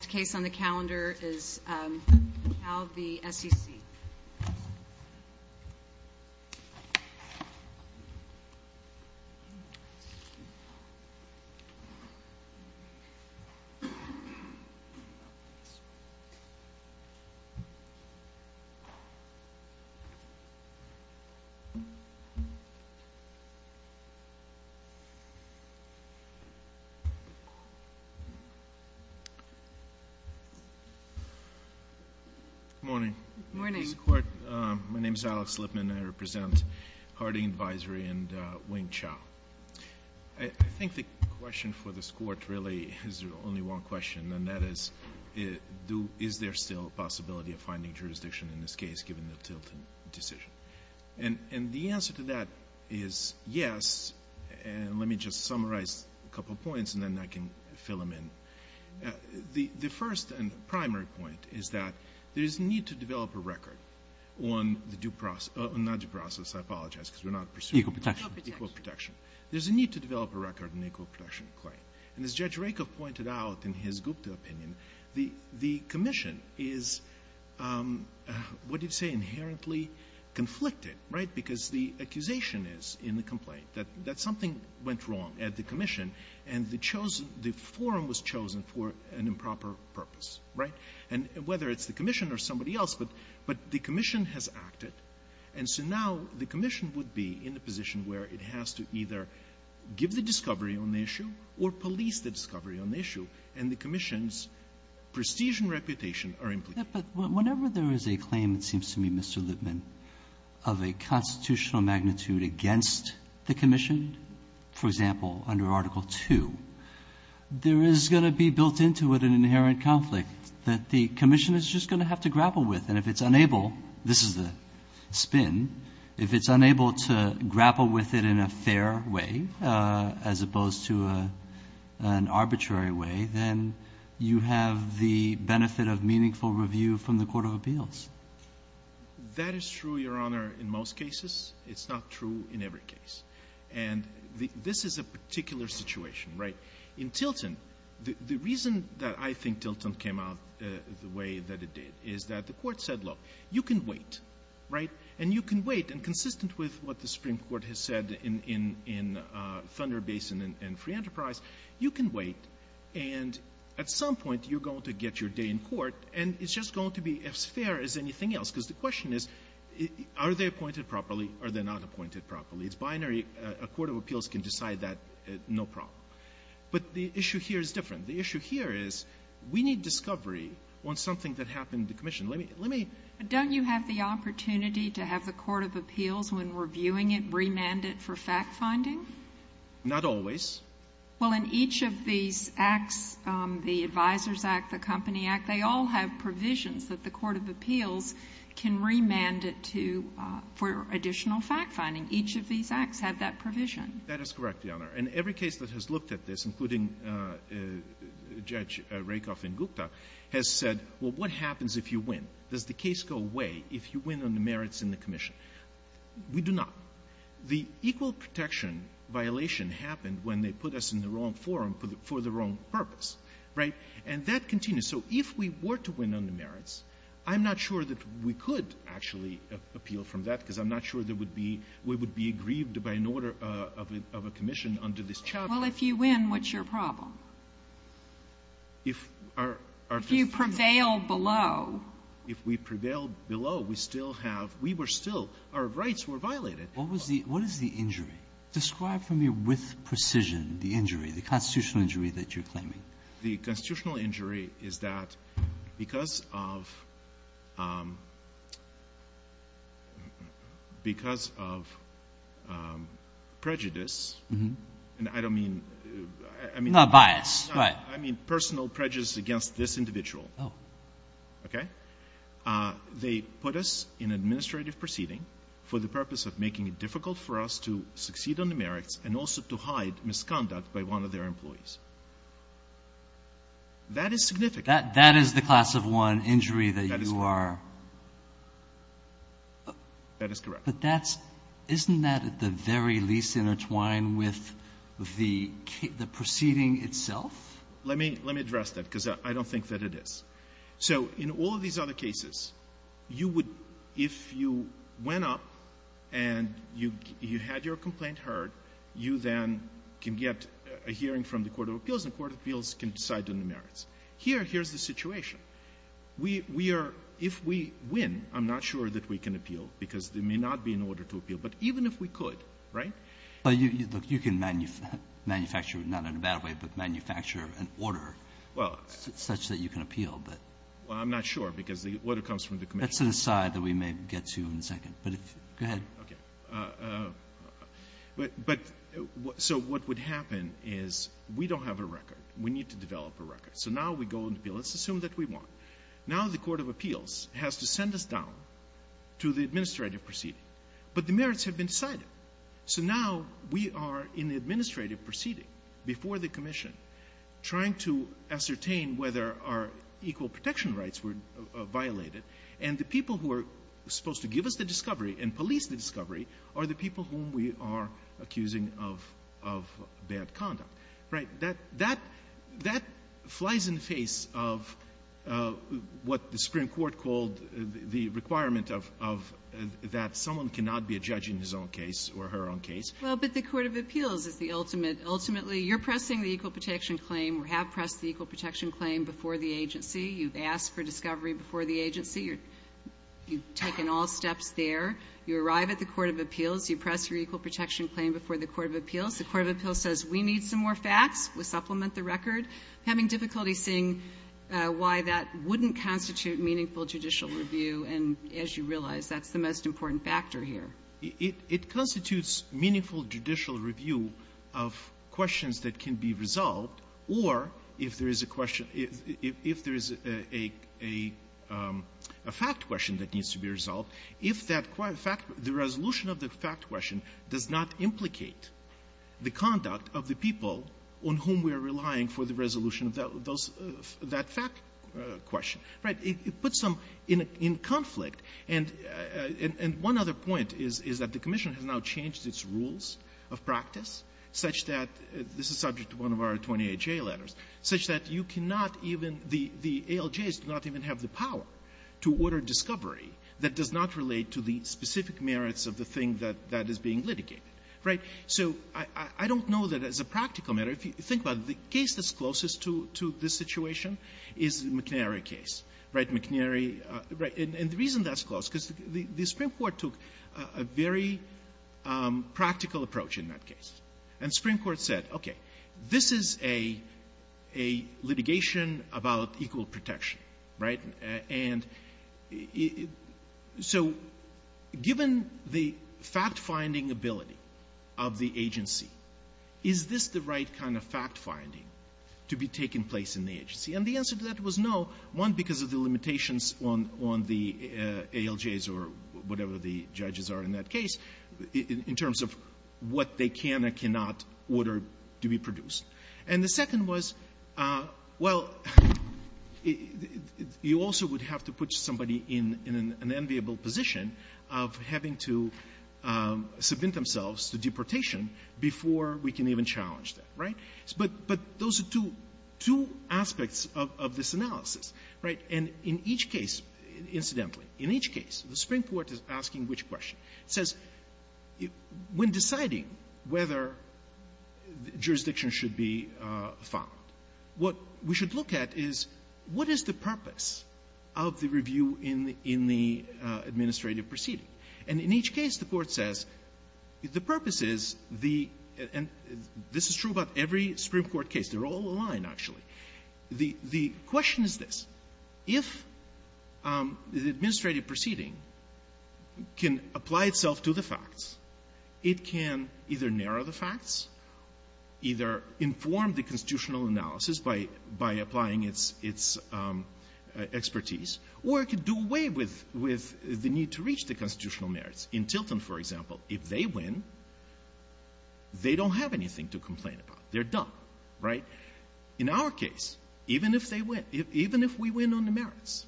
The next case on the calendar is Cal v. SEC. Good morning. Good morning. My name is Alex Lipman, and I represent Harding Advisory and Wing Chau. I think the question for this Court really is only one question, and that is, is there still a possibility of finding jurisdiction in this case, given the Tilton decision? And the answer to that is yes, and let me just summarize a couple points, and then I can fill them in. The first and primary point is that there is a need to develop a record on the due process or not due process, I apologize, because we're not pursuing equal protection. There's a need to develop a record on equal protection claim. And as Judge Rakoff pointed out in his Gupta opinion, the commission is, what do you say, inherently conflicted, right, because the accusation is in the complaint that something went wrong at the commission, and the forum was chosen for an improper purpose, right? And whether it's the commission or somebody else, but the commission has acted, and so now the commission would be in a position where it has to either give the discovery on the issue or police the discovery on the issue, and the commission's prestige and reputation are implicated. But whenever there is a claim, it seems to me, Mr. Lipman, of a constitutional against the commission, for example, under Article II, there is going to be built into it an inherent conflict that the commission is just going to have to grapple with, and if it's unable, this is the spin, if it's unable to grapple with it in a fair way as opposed to an arbitrary way, then you have the benefit of meaningful review from the Court of Appeals. That is true, Your Honor, in most cases. It's not true in every case. And this is a particular situation, right? In Tilton, the reason that I think Tilton came out the way that it did is that the Court said, look, you can wait, right? And you can wait, and consistent with what the Supreme Court has said in Thunder Basin and Free Enterprise, you can wait, and at some point you're going to get your day in court, and it's just going to be as fair as anything else, because the question is, are they appointed properly, are they not appointed properly? It's binary. A Court of Appeals can decide that, no problem. But the issue here is different. The issue here is we need discovery on something that happened in the commission. Let me — let me — But don't you have the opportunity to have the Court of Appeals, when we're viewing it, remand it for fact-finding? Not always. Well, in each of these acts, the Advisers Act, the Company Act, they all have provisions that the Court of Appeals can remand it to for additional fact-finding. Each of these acts have that provision. That is correct, Your Honor. And every case that has looked at this, including Judge Rakoff and Gupta, has said, well, what happens if you win? Does the case go away if you win on the merits in the commission? We do not. The equal protection violation happened when they put us in the wrong forum for the wrong purpose, right? And that continues. So if we were to win on the merits, I'm not sure that we could actually appeal from that, because I'm not sure there would be — we would be aggrieved by an order of a commission under this charge. Well, if you win, what's your problem? If our — If you prevail below. If we prevail below, we still have — we were still — our rights were violated. What was the — what is the injury? Describe for me with precision the injury, the constitutional injury that you're claiming. The constitutional injury is that because of — because of prejudice, and I don't mean — Not bias, right. I mean personal prejudice against this individual. Oh. Okay? They put us in administrative proceeding for the purpose of making it difficult for us to succeed on the merits and also to hide misconduct by one of their employees. That is significant. That is the class of one injury that you are — That is correct. But that's — isn't that at the very least intertwined with the proceeding itself? Let me — let me address that, because I don't think that it is. So in all of these other cases, you would — if you went up and you had your complaint heard, you then can get a hearing from the court of appeals, and the court of appeals can decide on the merits. Here, here's the situation. We are — if we win, I'm not sure that we can appeal, because there may not be an order to appeal. But even if we could, right? But you — look, you can manufacture — not in a bad way, but manufacture an order such that you can appeal, but — Well, I'm not sure, because the order comes from the commission. That's an aside that we may get to in a second. But if — go ahead. Okay. But — but — so what would happen is we don't have a record. We need to develop a record. So now we go and appeal. Let's assume that we won. Now the court of appeals has to send us down to the administrative proceeding. But the merits have been decided. So now we are in the administrative proceeding before the commission trying to ascertain whether our equal protection rights were violated. And the people who are supposed to give us the discovery and police the discovery are the people whom we are accusing of — of bad conduct. Right? That — that flies in the face of what the Supreme Court called the requirement of — of — that someone cannot be a judge in his own case or her own case. Well, but the court of appeals is the ultimate — ultimately, you're pressing the equal protection claim or have pressed the equal protection claim before the agency. You've asked for discovery before the agency. You've taken all steps there. You arrive at the court of appeals. You press your equal protection claim before the court of appeals. The court of appeals says, we need some more facts. We'll supplement the record. I'm having difficulty seeing why that wouldn't constitute meaningful judicial review. And as you realize, that's the most important factor here. It — it constitutes meaningful judicial review of questions that can be resolved, or if there is a question — if there is a — a fact question that needs to be resolved, if that fact — the resolution of the fact question does not implicate the conduct of the people on whom we are relying for the resolution of those — that fact question. Right? It — it puts them in a — in conflict, and — and one other point is — is that the commission has now changed its rules of practice such that — this is subject to one of our 28-J letters — such that you cannot even — the — the ALJs do not even have the power to order discovery that does not relate to the specific merits of the thing that — that is being litigated. Right? So I — I don't know that as a practical matter, if you think about it, but the case that's closest to — to this situation is the McNary case. Right? McNary — right. And — and the reason that's close, because the Supreme Court took a very practical approach in that case. And the Supreme Court said, okay, this is a — a litigation about equal protection. Right? And so given the fact-finding ability of the agency, is this the right kind of fact-finding to be taking place in the agency? And the answer to that was no, one, because of the limitations on — on the ALJs or whatever the judges are in that case, in terms of what they can and cannot order to be produced. And the second was, well, you also would have to put somebody in — in an enviable position of having to submit themselves to deportation before we can even challenge that. Right? But — but those are two — two aspects of — of this analysis. Right? And in each case, incidentally, in each case, the Supreme Court is asking which question. It says, when deciding whether jurisdiction should be found, what we should look at is, what is the purpose of the review in the — in the administrative proceeding? And in each case, the Court says, the purpose is the — and this is true about every Supreme Court case. They're all aligned, actually. The — the question is this. If the administrative proceeding can apply itself to the facts, it can either by applying its — its expertise, or it can do away with — with the need to reach the constitutional merits. In Tilton, for example, if they win, they don't have anything to complain about. They're done. Right? In our case, even if they win, even if we win on the merits,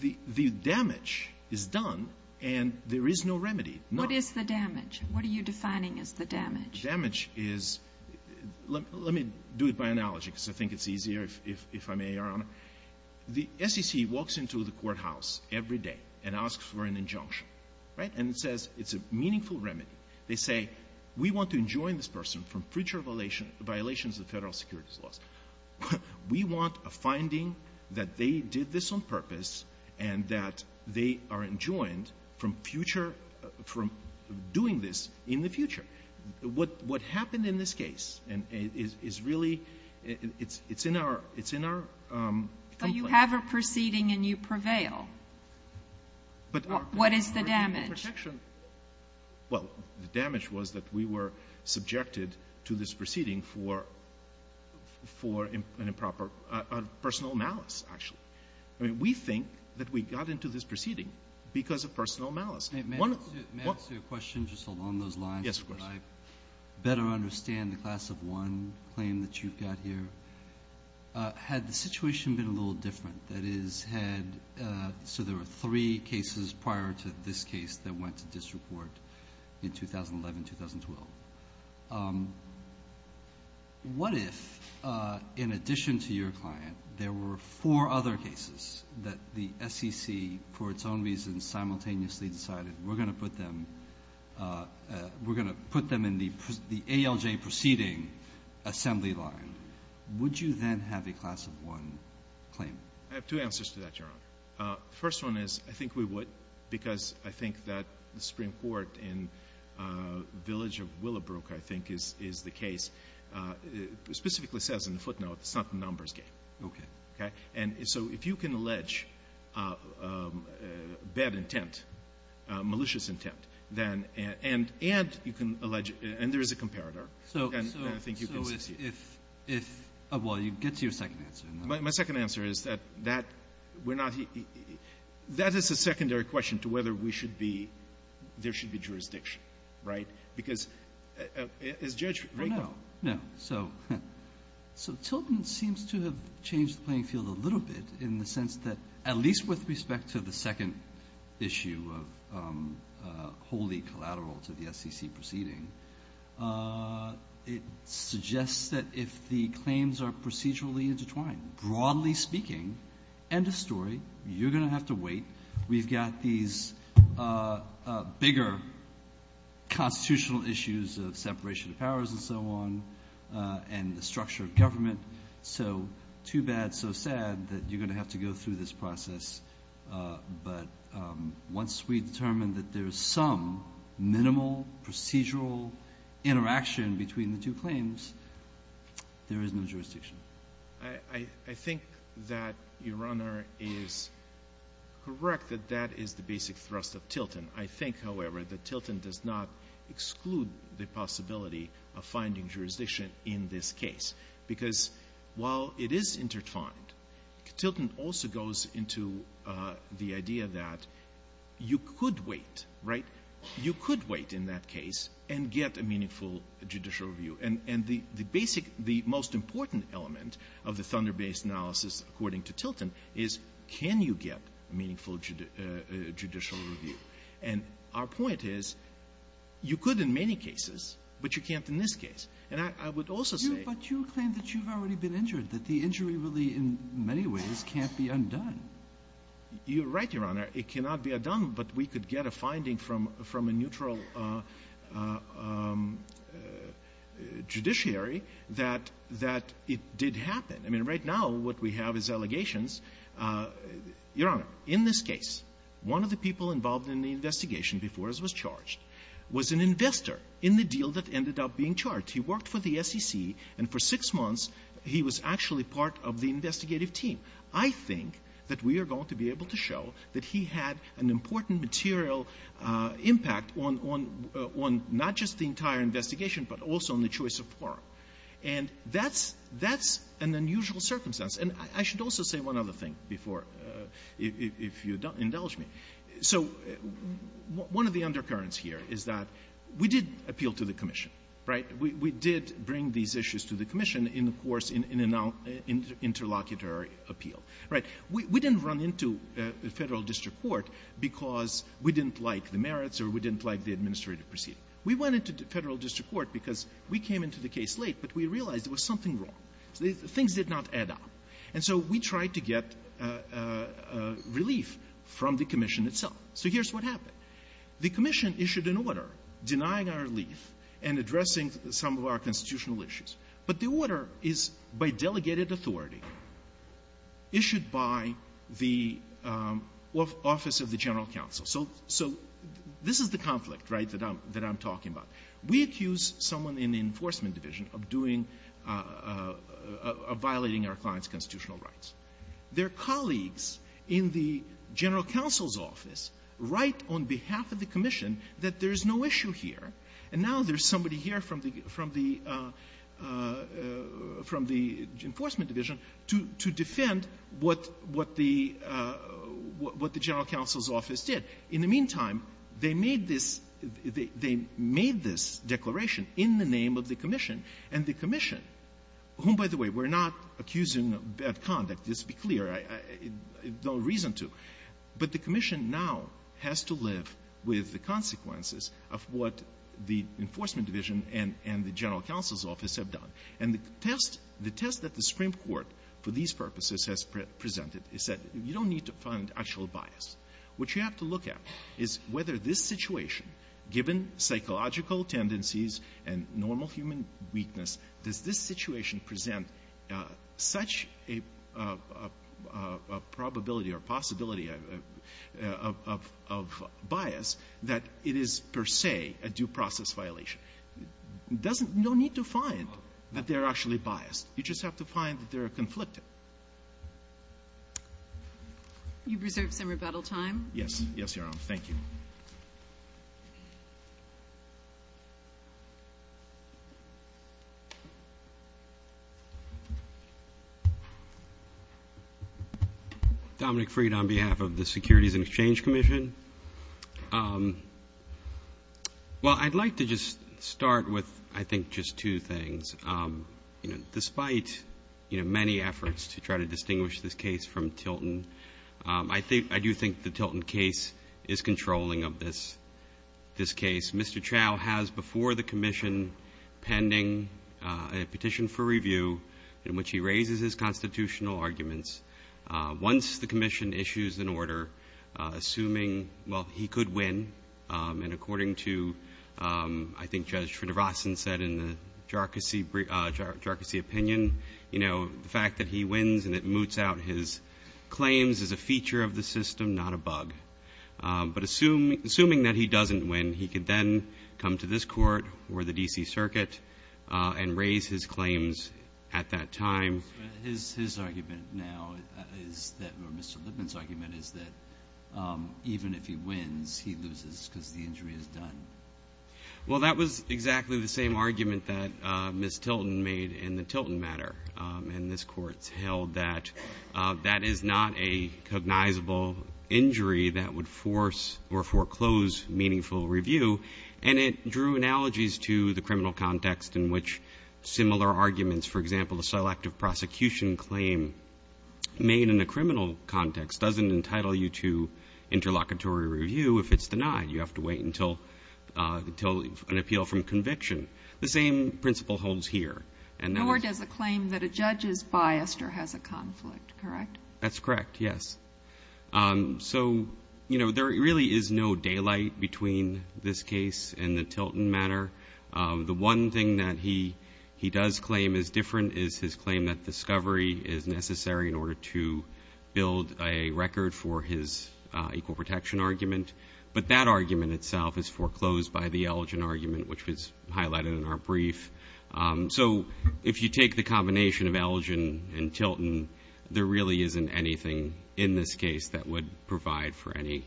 the — the damage is done, and there is no remedy. What is the damage? What are you defining as the damage? The damage is — let — let me do it by analogy, because I think it's easier if — if I may, Your Honor. The SEC walks into the courthouse every day and asks for an injunction. Right? And it says it's a meaningful remedy. They say, we want to enjoin this person from future violation — violations of Federal securities laws. We want a finding that they did this on purpose and that they are enjoined from future — from doing this in the future. What — what happened in this case is really — it's — it's in our — it's in our complaint. But you have a proceeding and you prevail. But our — What is the damage? Well, the damage was that we were subjected to this proceeding for — for an improper — personal malice, actually. I mean, we think that we got into this proceeding because of personal malice. May I ask you a question just along those lines? Yes, of course. I better understand the class of one claim that you've got here. Had the situation been a little different? That is, had — so there were three cases prior to this case that went to disreport in 2011-2012. What if, in addition to your client, there were four other cases that the SEC, for its own reasons, simultaneously decided we're going to put them — we're going to put them in the ALJ proceeding assembly line? Would you then have a class of one claim? I have two answers to that, Your Honor. The first one is I think we would because I think that the Supreme Court in the village of Willowbrook, I think, is — is the case. It specifically says in the footnote it's not the numbers game. Okay. Okay? And so if you can allege bad intent, malicious intent, then — and you can allege — and there is a comparator, then I think you can succeed. So if — well, you get to your second answer. My second answer is that that — we're not — that is a secondary question to whether we should be — there should be jurisdiction, right? Because as Judge — Well, no. No. So — so Tilton seems to have changed the playing field a little bit in the sense that, at least with respect to the second issue of wholly collateral to the SEC proceeding, it suggests that if the claims are procedurally intertwined, broadly speaking, end of story, you're going to have to wait. We've got these bigger constitutional issues of separation of powers and so on and the structure of government. So too bad, so sad that you're going to have to go through this process. But once we determine that there is some minimal procedural interaction between the two claims, there is no jurisdiction. I think that Your Honor is correct that that is the basic thrust of Tilton. I think, however, that Tilton does not exclude the possibility of finding jurisdiction in this case, because while it is intertwined, Tilton also goes into the idea that you could wait, right? You could wait in that case and get a meaningful judicial review. And the basic, the most important element of the Thunder Bay's analysis, according to Tilton, is can you get a meaningful judicial review. And our point is you could in many cases, but you can't in this case. And I would also say — But you claim that you've already been injured, that the injury really in many ways can't be undone. You're right, Your Honor. It cannot be undone, but we could get a finding from a neutral judiciary that it did happen. I mean, right now what we have is allegations. Your Honor, in this case, one of the people involved in the investigation before us was charged, was an investor in the deal that ended up being charged. He worked for the SEC, and for six months he was actually part of the investigative team. I think that we are going to be able to show that he had an important material impact on — on not just the entire investigation, but also on the choice of forum. And that's — that's an unusual circumstance. And I should also say one other thing before, if you indulge me. So one of the undercurrents here is that we did appeal to the commission, right? We did bring these issues to the commission in the course — in an interlocutory appeal, right? We didn't run into the Federal District Court because we didn't like the merits or we didn't like the administrative proceeding. We went into the Federal District Court because we came into the case late, but we realized there was something wrong. Things did not add up. And so we tried to get relief from the — some of our constitutional issues. But the order is by delegated authority, issued by the Office of the General Counsel. So — so this is the conflict, right, that I'm — that I'm talking about. We accuse someone in the Enforcement Division of doing — of violating our client's constitutional rights. Their colleagues in the General Counsel's office write on behalf of the commission that there is no reason from the — from the Enforcement Division to — to defend what — what the — what the General Counsel's office did. In the meantime, they made this — they made this declaration in the name of the commission, and the commission, whom, by the way, we're not accusing of bad conduct. Let's be clear. No reason to. But the commission now has to live with the consequences of what the Enforcement Division and — and the General Counsel's office have done. And the test — the test that the Supreme Court, for these purposes, has presented is that you don't need to fund actual bias. What you have to look at is whether this situation, given psychological tendencies and normal human weakness, does this situation present such a — a — a probability or possibility of — of — of bias that it is, per se, a due process violation. It doesn't — you don't need to find that they're actually biased. You just have to find that they're conflicted. You reserve some rebuttal time. Yes. Yes, Your Honor. Thank you. Dominic Freed on behalf of the Securities and Exchange Commission. Well, I'd like to just start with, I think, just two things. You know, despite, you know, many efforts to try to distinguish this case from Tilton, I think — I do think the Tilton case is the best controlling of this — this case. Mr. Chau has, before the commission, pending a petition for review in which he raises his constitutional arguments. Once the commission issues an order, assuming — well, he could win, and according to, I think, Judge Srinivasan said in the Jharkhasi — Jharkhasi opinion, you know, the fact that he wins and it moots out his claims is a feature of the system, not a bug. But assuming that he doesn't win, he could then come to this court or the D.C. Circuit and raise his claims at that time. But his argument now is that — or Mr. Lipman's argument is that even if he wins, he loses because the injury is done. Well, that was exactly the same argument that Ms. Tilton made in the Tilton matter. And this Court's held that that is not a cognizable injury that would force or foreclose meaningful review. And it drew analogies to the criminal context in which similar arguments — for example, the selective prosecution claim made in a criminal context doesn't entitle you to interlocutory review if it's denied. You have to wait until an appeal from conviction. The same principle holds here. Nor does the claim that a judge is biased or has a conflict, correct? That's correct, yes. So, you know, there really is no daylight between this case and the Tilton matter. The one thing that he does claim is different is his claim that discovery is necessary in order to build a record for his equal protection argument. But that argument itself is foreclosed by the Elgin argument, which was highlighted in our brief. So if you take the combination of Elgin and Tilton, there really isn't anything in this case that would provide for any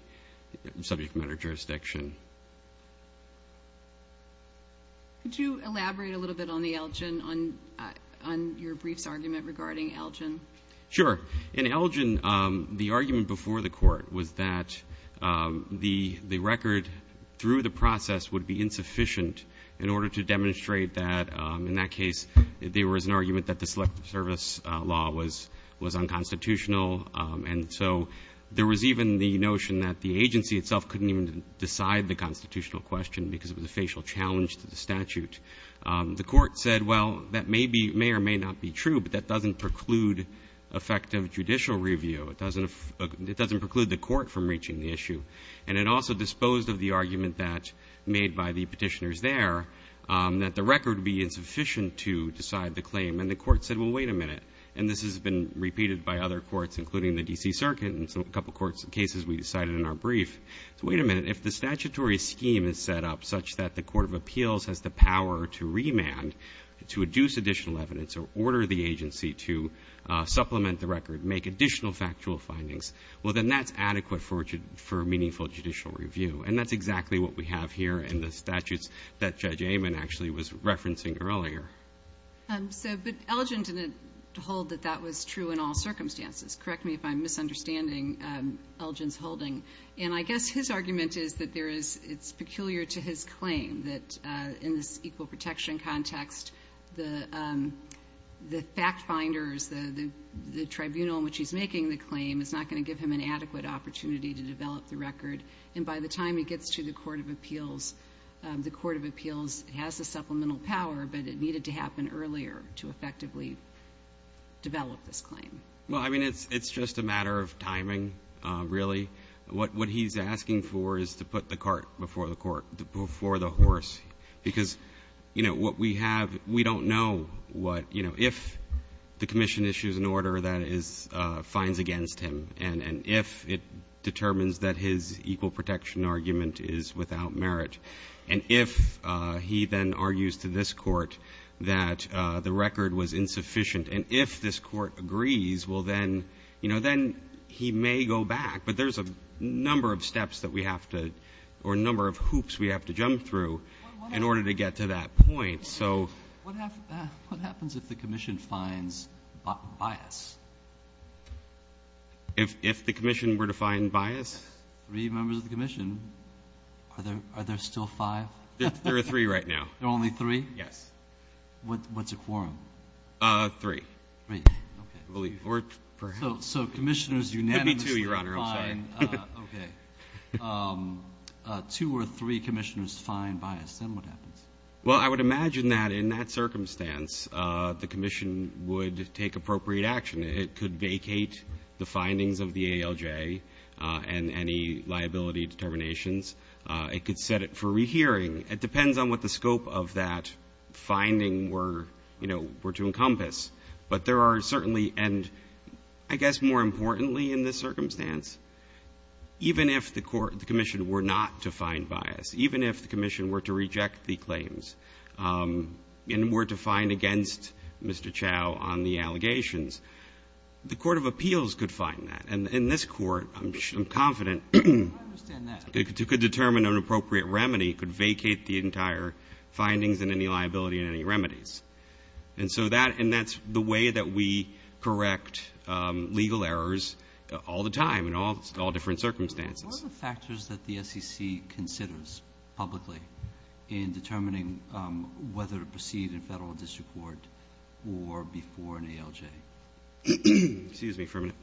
subject matter jurisdiction. Could you elaborate a little bit on the Elgin — on your brief's argument regarding Elgin? Sure. In Elgin, the argument before the court was that the record through the process would be insufficient in order to demonstrate that — in that case, there was an argument that the Selective Service law was unconstitutional. And so there was even the notion that the agency itself couldn't even decide the constitutional question because of the facial challenge to the statute. The court said, well, that may be — may or may not be true, but that doesn't preclude effective judicial review. It doesn't preclude the court from reaching the issue. And it also disposed of the argument that — made by the petitioners there, that the record would be insufficient to decide the claim. And the court said, well, wait a minute. And this has been repeated by other courts, including the D.C. Circuit, and a couple of courts' cases we decided in our brief. So wait a minute. If the statutory scheme is set up such that the court of appeals has the power to remand, to adduce additional evidence, or order the agency to supplement the record, make additional factual findings, well, then that's adequate for meaningful judicial review. And that's exactly what we have here in the statutes that Judge Amon actually was referencing earlier. So, but Elgin didn't hold that that was true in all circumstances. Correct me if I'm misunderstanding Elgin's holding. And I guess his argument is that there is — it's peculiar to his claim that in this equal protection context, the fact finders, the tribunal in which he's making the claim, is not going to give him an adequate opportunity to develop the record. And by the time he gets to the court of appeals, the court of appeals has the supplemental power, but it needed to happen earlier to effectively develop this claim. Well, I mean, it's just a matter of timing, really. What he's asking for is to put the cart before the horse. Because, you know, what we have, we don't know what, you know, if the commission issues an order that finds against him, and if it determines that his equal protection argument is without merit. And if he then argues to this court that the record was insufficient, and if this court agrees, well, then, you know, then he may go back. But there's a number of steps that we have to — or a number of hoops we have to jump through in order to get to that point. So — What happens if the commission finds bias? If the commission were to find bias? Three members of the commission. Are there still five? There are three right now. There are only three? Yes. What's a quorum? Three. Three. Okay. So commissioners unanimously find — It would be two, Your Honor. I'm sorry. Okay. Two or three commissioners find bias. Then what happens? Well, I would imagine that in that circumstance, the commission would take appropriate action. It could vacate the findings of the ALJ and any liability determinations. It could set it for rehearing. It depends on what the scope of that finding were, you know, were to encompass. But there are certainly — and I guess more importantly in this circumstance, even if the commission were not to find bias, even if the commission were to reject the claims and were to find against Mr. Chau on the allegations, the court of appeals could find that. And in this court, I'm confident — I understand that. It could determine an appropriate remedy. It could vacate the entire findings and any liability and any remedies. And so that — and that's the way that we correct legal errors all the time in all different circumstances. What are the factors that the SEC considers publicly in determining whether to proceed in federal district court or before an ALJ? Excuse me for a minute.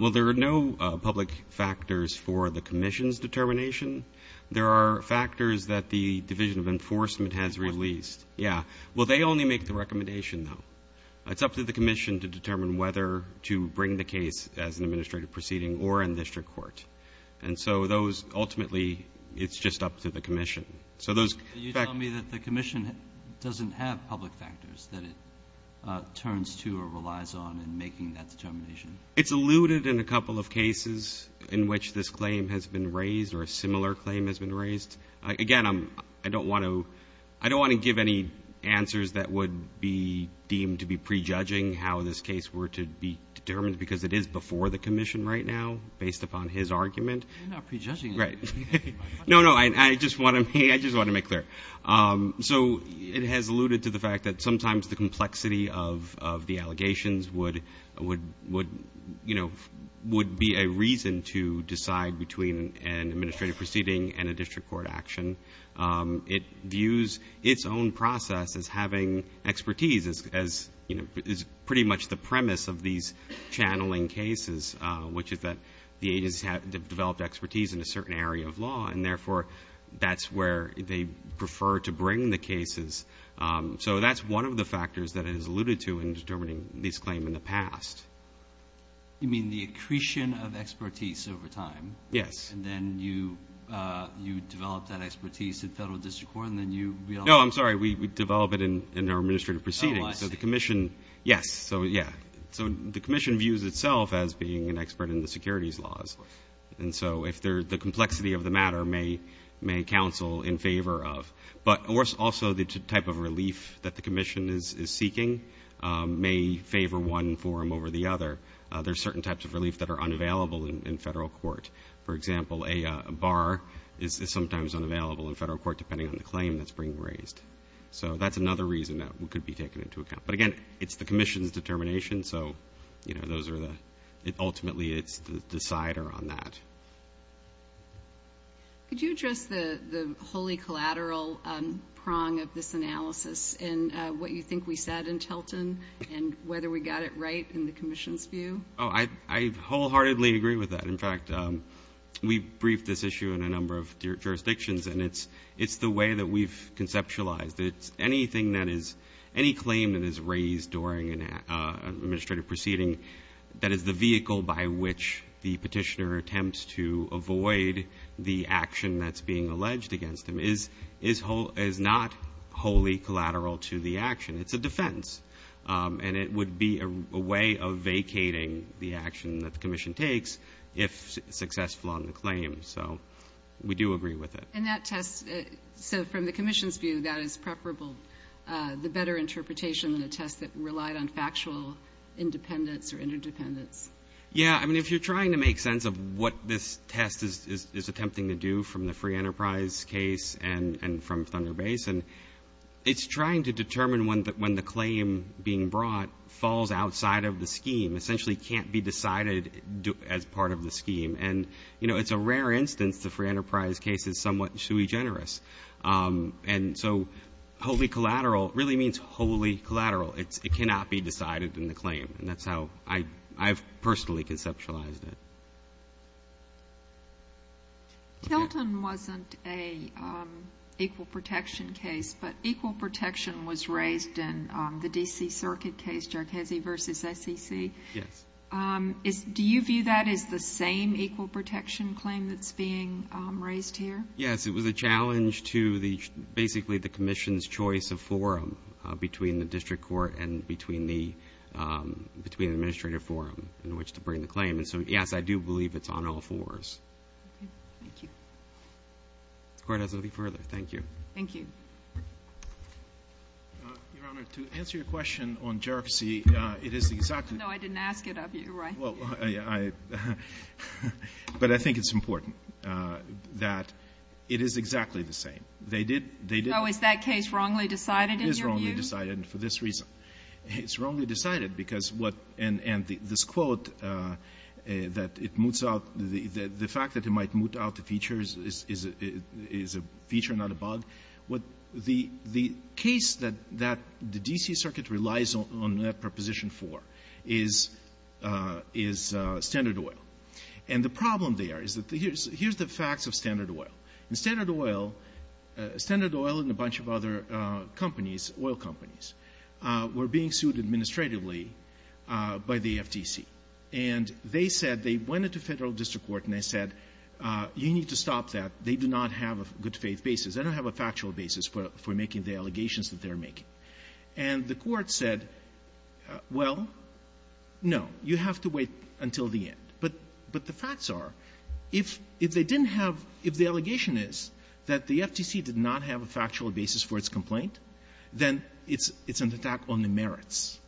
Well, there are no public factors for the commission's determination. There are factors that the Division of Enforcement has released. Yeah. Well, they only make the recommendation, though. It's up to the commission to determine whether to bring the case as an administrative proceeding or in district court. And so those — ultimately, it's just up to the commission. So those — You tell me that the commission doesn't have public factors that it turns to or relies on in making that determination. It's alluded in a couple of cases in which this claim has been raised or a similar claim has been raised. Again, I'm — I don't want to — I don't want to give any answers that would be deemed to be prejudging how this case were to be determined because it is before the commission right now based upon his argument. You're not prejudging. Right. No, no. I just want to — I just want to make clear. So it has alluded to the fact that sometimes the complexity of the allegations would, you know, would be a reason to decide between an administrative proceeding and a district court action. It views its own process as having expertise as, you know, is pretty much the premise of these channeling cases, which is that the agencies have developed expertise in a certain area of law, and therefore that's where they prefer to bring the cases. So that's one of the factors that it has alluded to in determining this claim in the past. You mean the accretion of expertise over time? Yes. And then you develop that expertise at federal district court, and then you — No, I'm sorry. We develop it in our administrative proceedings. Oh, I see. So the commission — yes. So, yeah. So the commission views itself as being an expert in the securities laws. And so if there — the complexity of the matter may counsel in favor of — but also the type of relief that the commission is seeking may favor one forum over the other. There are certain types of relief that are unavailable in federal court. For example, a bar is sometimes unavailable in federal court depending on the claim that's being raised. So that's another reason that could be taken into account. But, again, it's the commission's determination, so, you know, those are the — Could you address the wholly collateral prong of this analysis and what you think we said in Tilton and whether we got it right in the commission's view? Oh, I wholeheartedly agree with that. In fact, we've briefed this issue in a number of jurisdictions, and it's the way that we've conceptualized it. Anything that is — any claim that is raised during an administrative proceeding, that is the vehicle by which the petitioner attempts to avoid the action that's being alleged against them, is not wholly collateral to the action. It's a defense. And it would be a way of vacating the action that the commission takes if successful on the claim. So we do agree with it. And that test — so from the commission's view, that is preferable, the better interpretation of the test that relied on factual independence or interdependence. Yeah. I mean, if you're trying to make sense of what this test is attempting to do from the Free Enterprise case and from Thunder Basin, it's trying to determine when the claim being brought falls outside of the scheme, essentially can't be decided as part of the scheme. And, you know, it's a rare instance the Free Enterprise case is somewhat shoei generous. And so wholly collateral really means wholly collateral. It cannot be decided in the claim. And that's how I've personally conceptualized it. Tilton wasn't an equal protection case, but equal protection was raised in the D.C. Circuit case, Jarchese v. SEC. Yes. Do you view that as the same equal protection claim that's being raised here? Yes. It was a challenge to basically the commission's choice of forum between the district court and between the administrative forum in which to bring the claim. And so, yes, I do believe it's on all fours. Okay. Thank you. The Court has nothing further. Thank you. Thank you. Your Honor, to answer your question on Jarchese, it is exactly — No, I didn't ask it of you, right? Well, I — but I think it's important that it is exactly the same. They did — No, is that case wrongly decided in your view? It is wrongly decided for this reason. It's wrongly decided because what — and this quote that it moots out, the fact that it might moot out the features is a feature, not a bug. But the case that the D.C. Circuit relies on that preposition for is Standard Oil. And the problem there is that — here's the facts of Standard Oil. In Standard Oil, Standard Oil and a bunch of other companies, oil companies, were being sued administratively by the FTC. And they said — they went into Federal district court and they said, you need to stop that. They do not have a good-faith basis. They don't have a factual basis for making the allegations that they're making. And the Court said, well, no, you have to wait until the end. But the facts are, if they didn't have — if the allegation is that the FTC did not have a factual basis for its complaint, then it's an attack on the merits,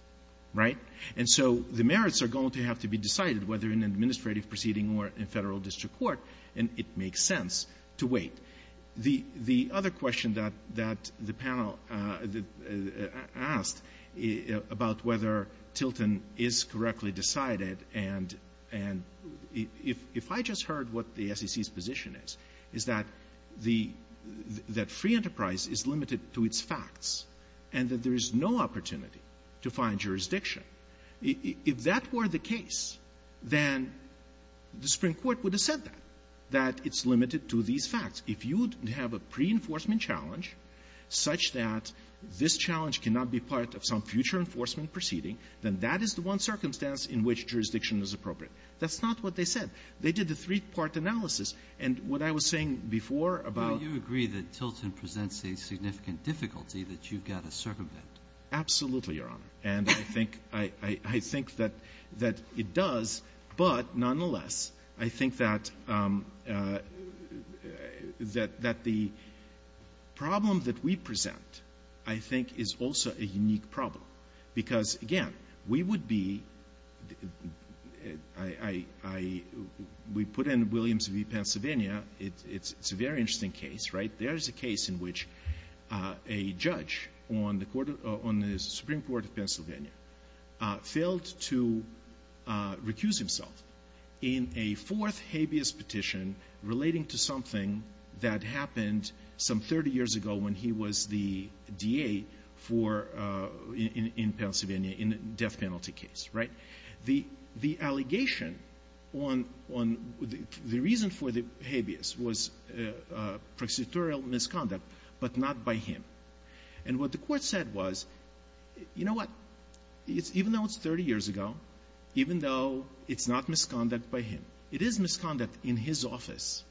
right? And so the merits are going to have to be decided whether in an administrative proceeding or in Federal district court, and it makes sense to wait. The other question that the panel asked about whether Tilton is correctly decided and if I just heard what the SEC's position is, is that the — that free enterprise is limited to its facts and that there is no opportunity to find jurisdiction. If that were the case, then the Supreme Court would have said that, that it's limited to these facts. If you would have a pre-enforcement challenge such that this challenge cannot be part of some future enforcement proceeding, then that is the one circumstance in which jurisdiction is appropriate. That's not what they said. They did a three-part analysis. And what I was saying before about — I think that it does, but nonetheless, I think that the problem that we present, I think, is also a unique problem because, again, we would be — we put in Williams v. Pennsylvania. It's a very interesting case, right? There is a case in which a judge on the Supreme Court of Pennsylvania failed to recuse himself in a fourth habeas petition relating to something that happened some 30 years ago when he was the DA for — in Pennsylvania in a death penalty case, right? The allegation on — the reason for the habeas was prosecutorial misconduct, but not by him. And what the Court said was, you know what, even though it's 30 years ago, even though it's not misconduct by him, it is misconduct in his office.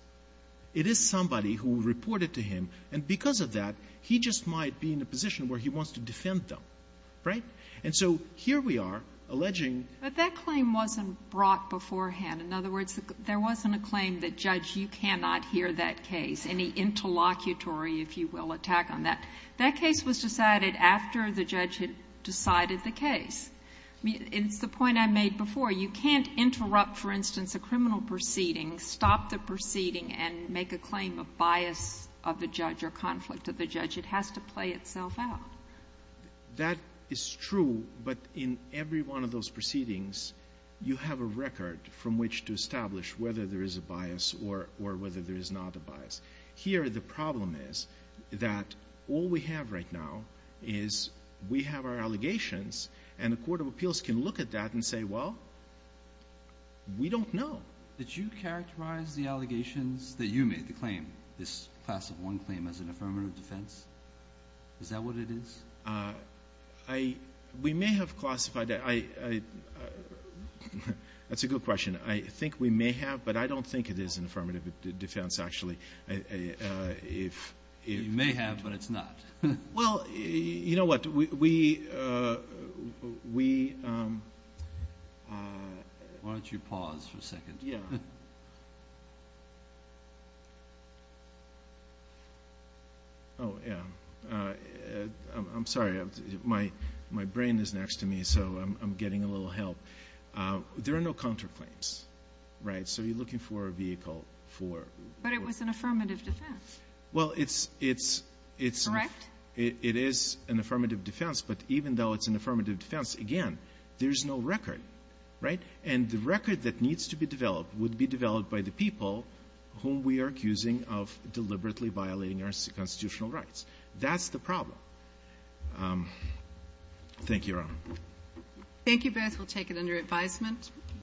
It is somebody who reported to him, and because of that, he just might be in a position where he wants to defend them, right? And so here we are alleging — But that claim wasn't brought beforehand. In other words, there wasn't a claim that, Judge, you cannot hear that case, any interlocutory, if you will, attack on that. That case was decided after the judge had decided the case. It's the point I made before. You can't interrupt, for instance, a criminal proceeding, stop the proceeding, and make a claim of bias of the judge or conflict of the judge. It has to play itself out. That is true, but in every one of those proceedings, you have a record from which to establish whether there is a bias or whether there is not a bias. Here, the problem is that all we have right now is we have our allegations, and the Court of Appeals can look at that and say, well, we don't know. Did you characterize the allegations that you made, the claim, this Class of 1 claim, as an affirmative defense? Is that what it is? We may have classified that. That's a good question. I think we may have, but I don't think it is an affirmative defense, actually. You may have, but it's not. Well, you know what, we... Why don't you pause for a second? Oh, yeah. I'm sorry. My brain is next to me, so I'm getting a little help. There are no counterclaims, right? So you're looking for a vehicle for... But it was an affirmative defense. Well, it's... Correct? It is an affirmative defense, but even though it's an affirmative defense, again, there's no record, right? And the record that needs to be developed would be developed by the people whom we are That's the problem. Thank you, Your Honor. Thank you both. We'll take it under advisement.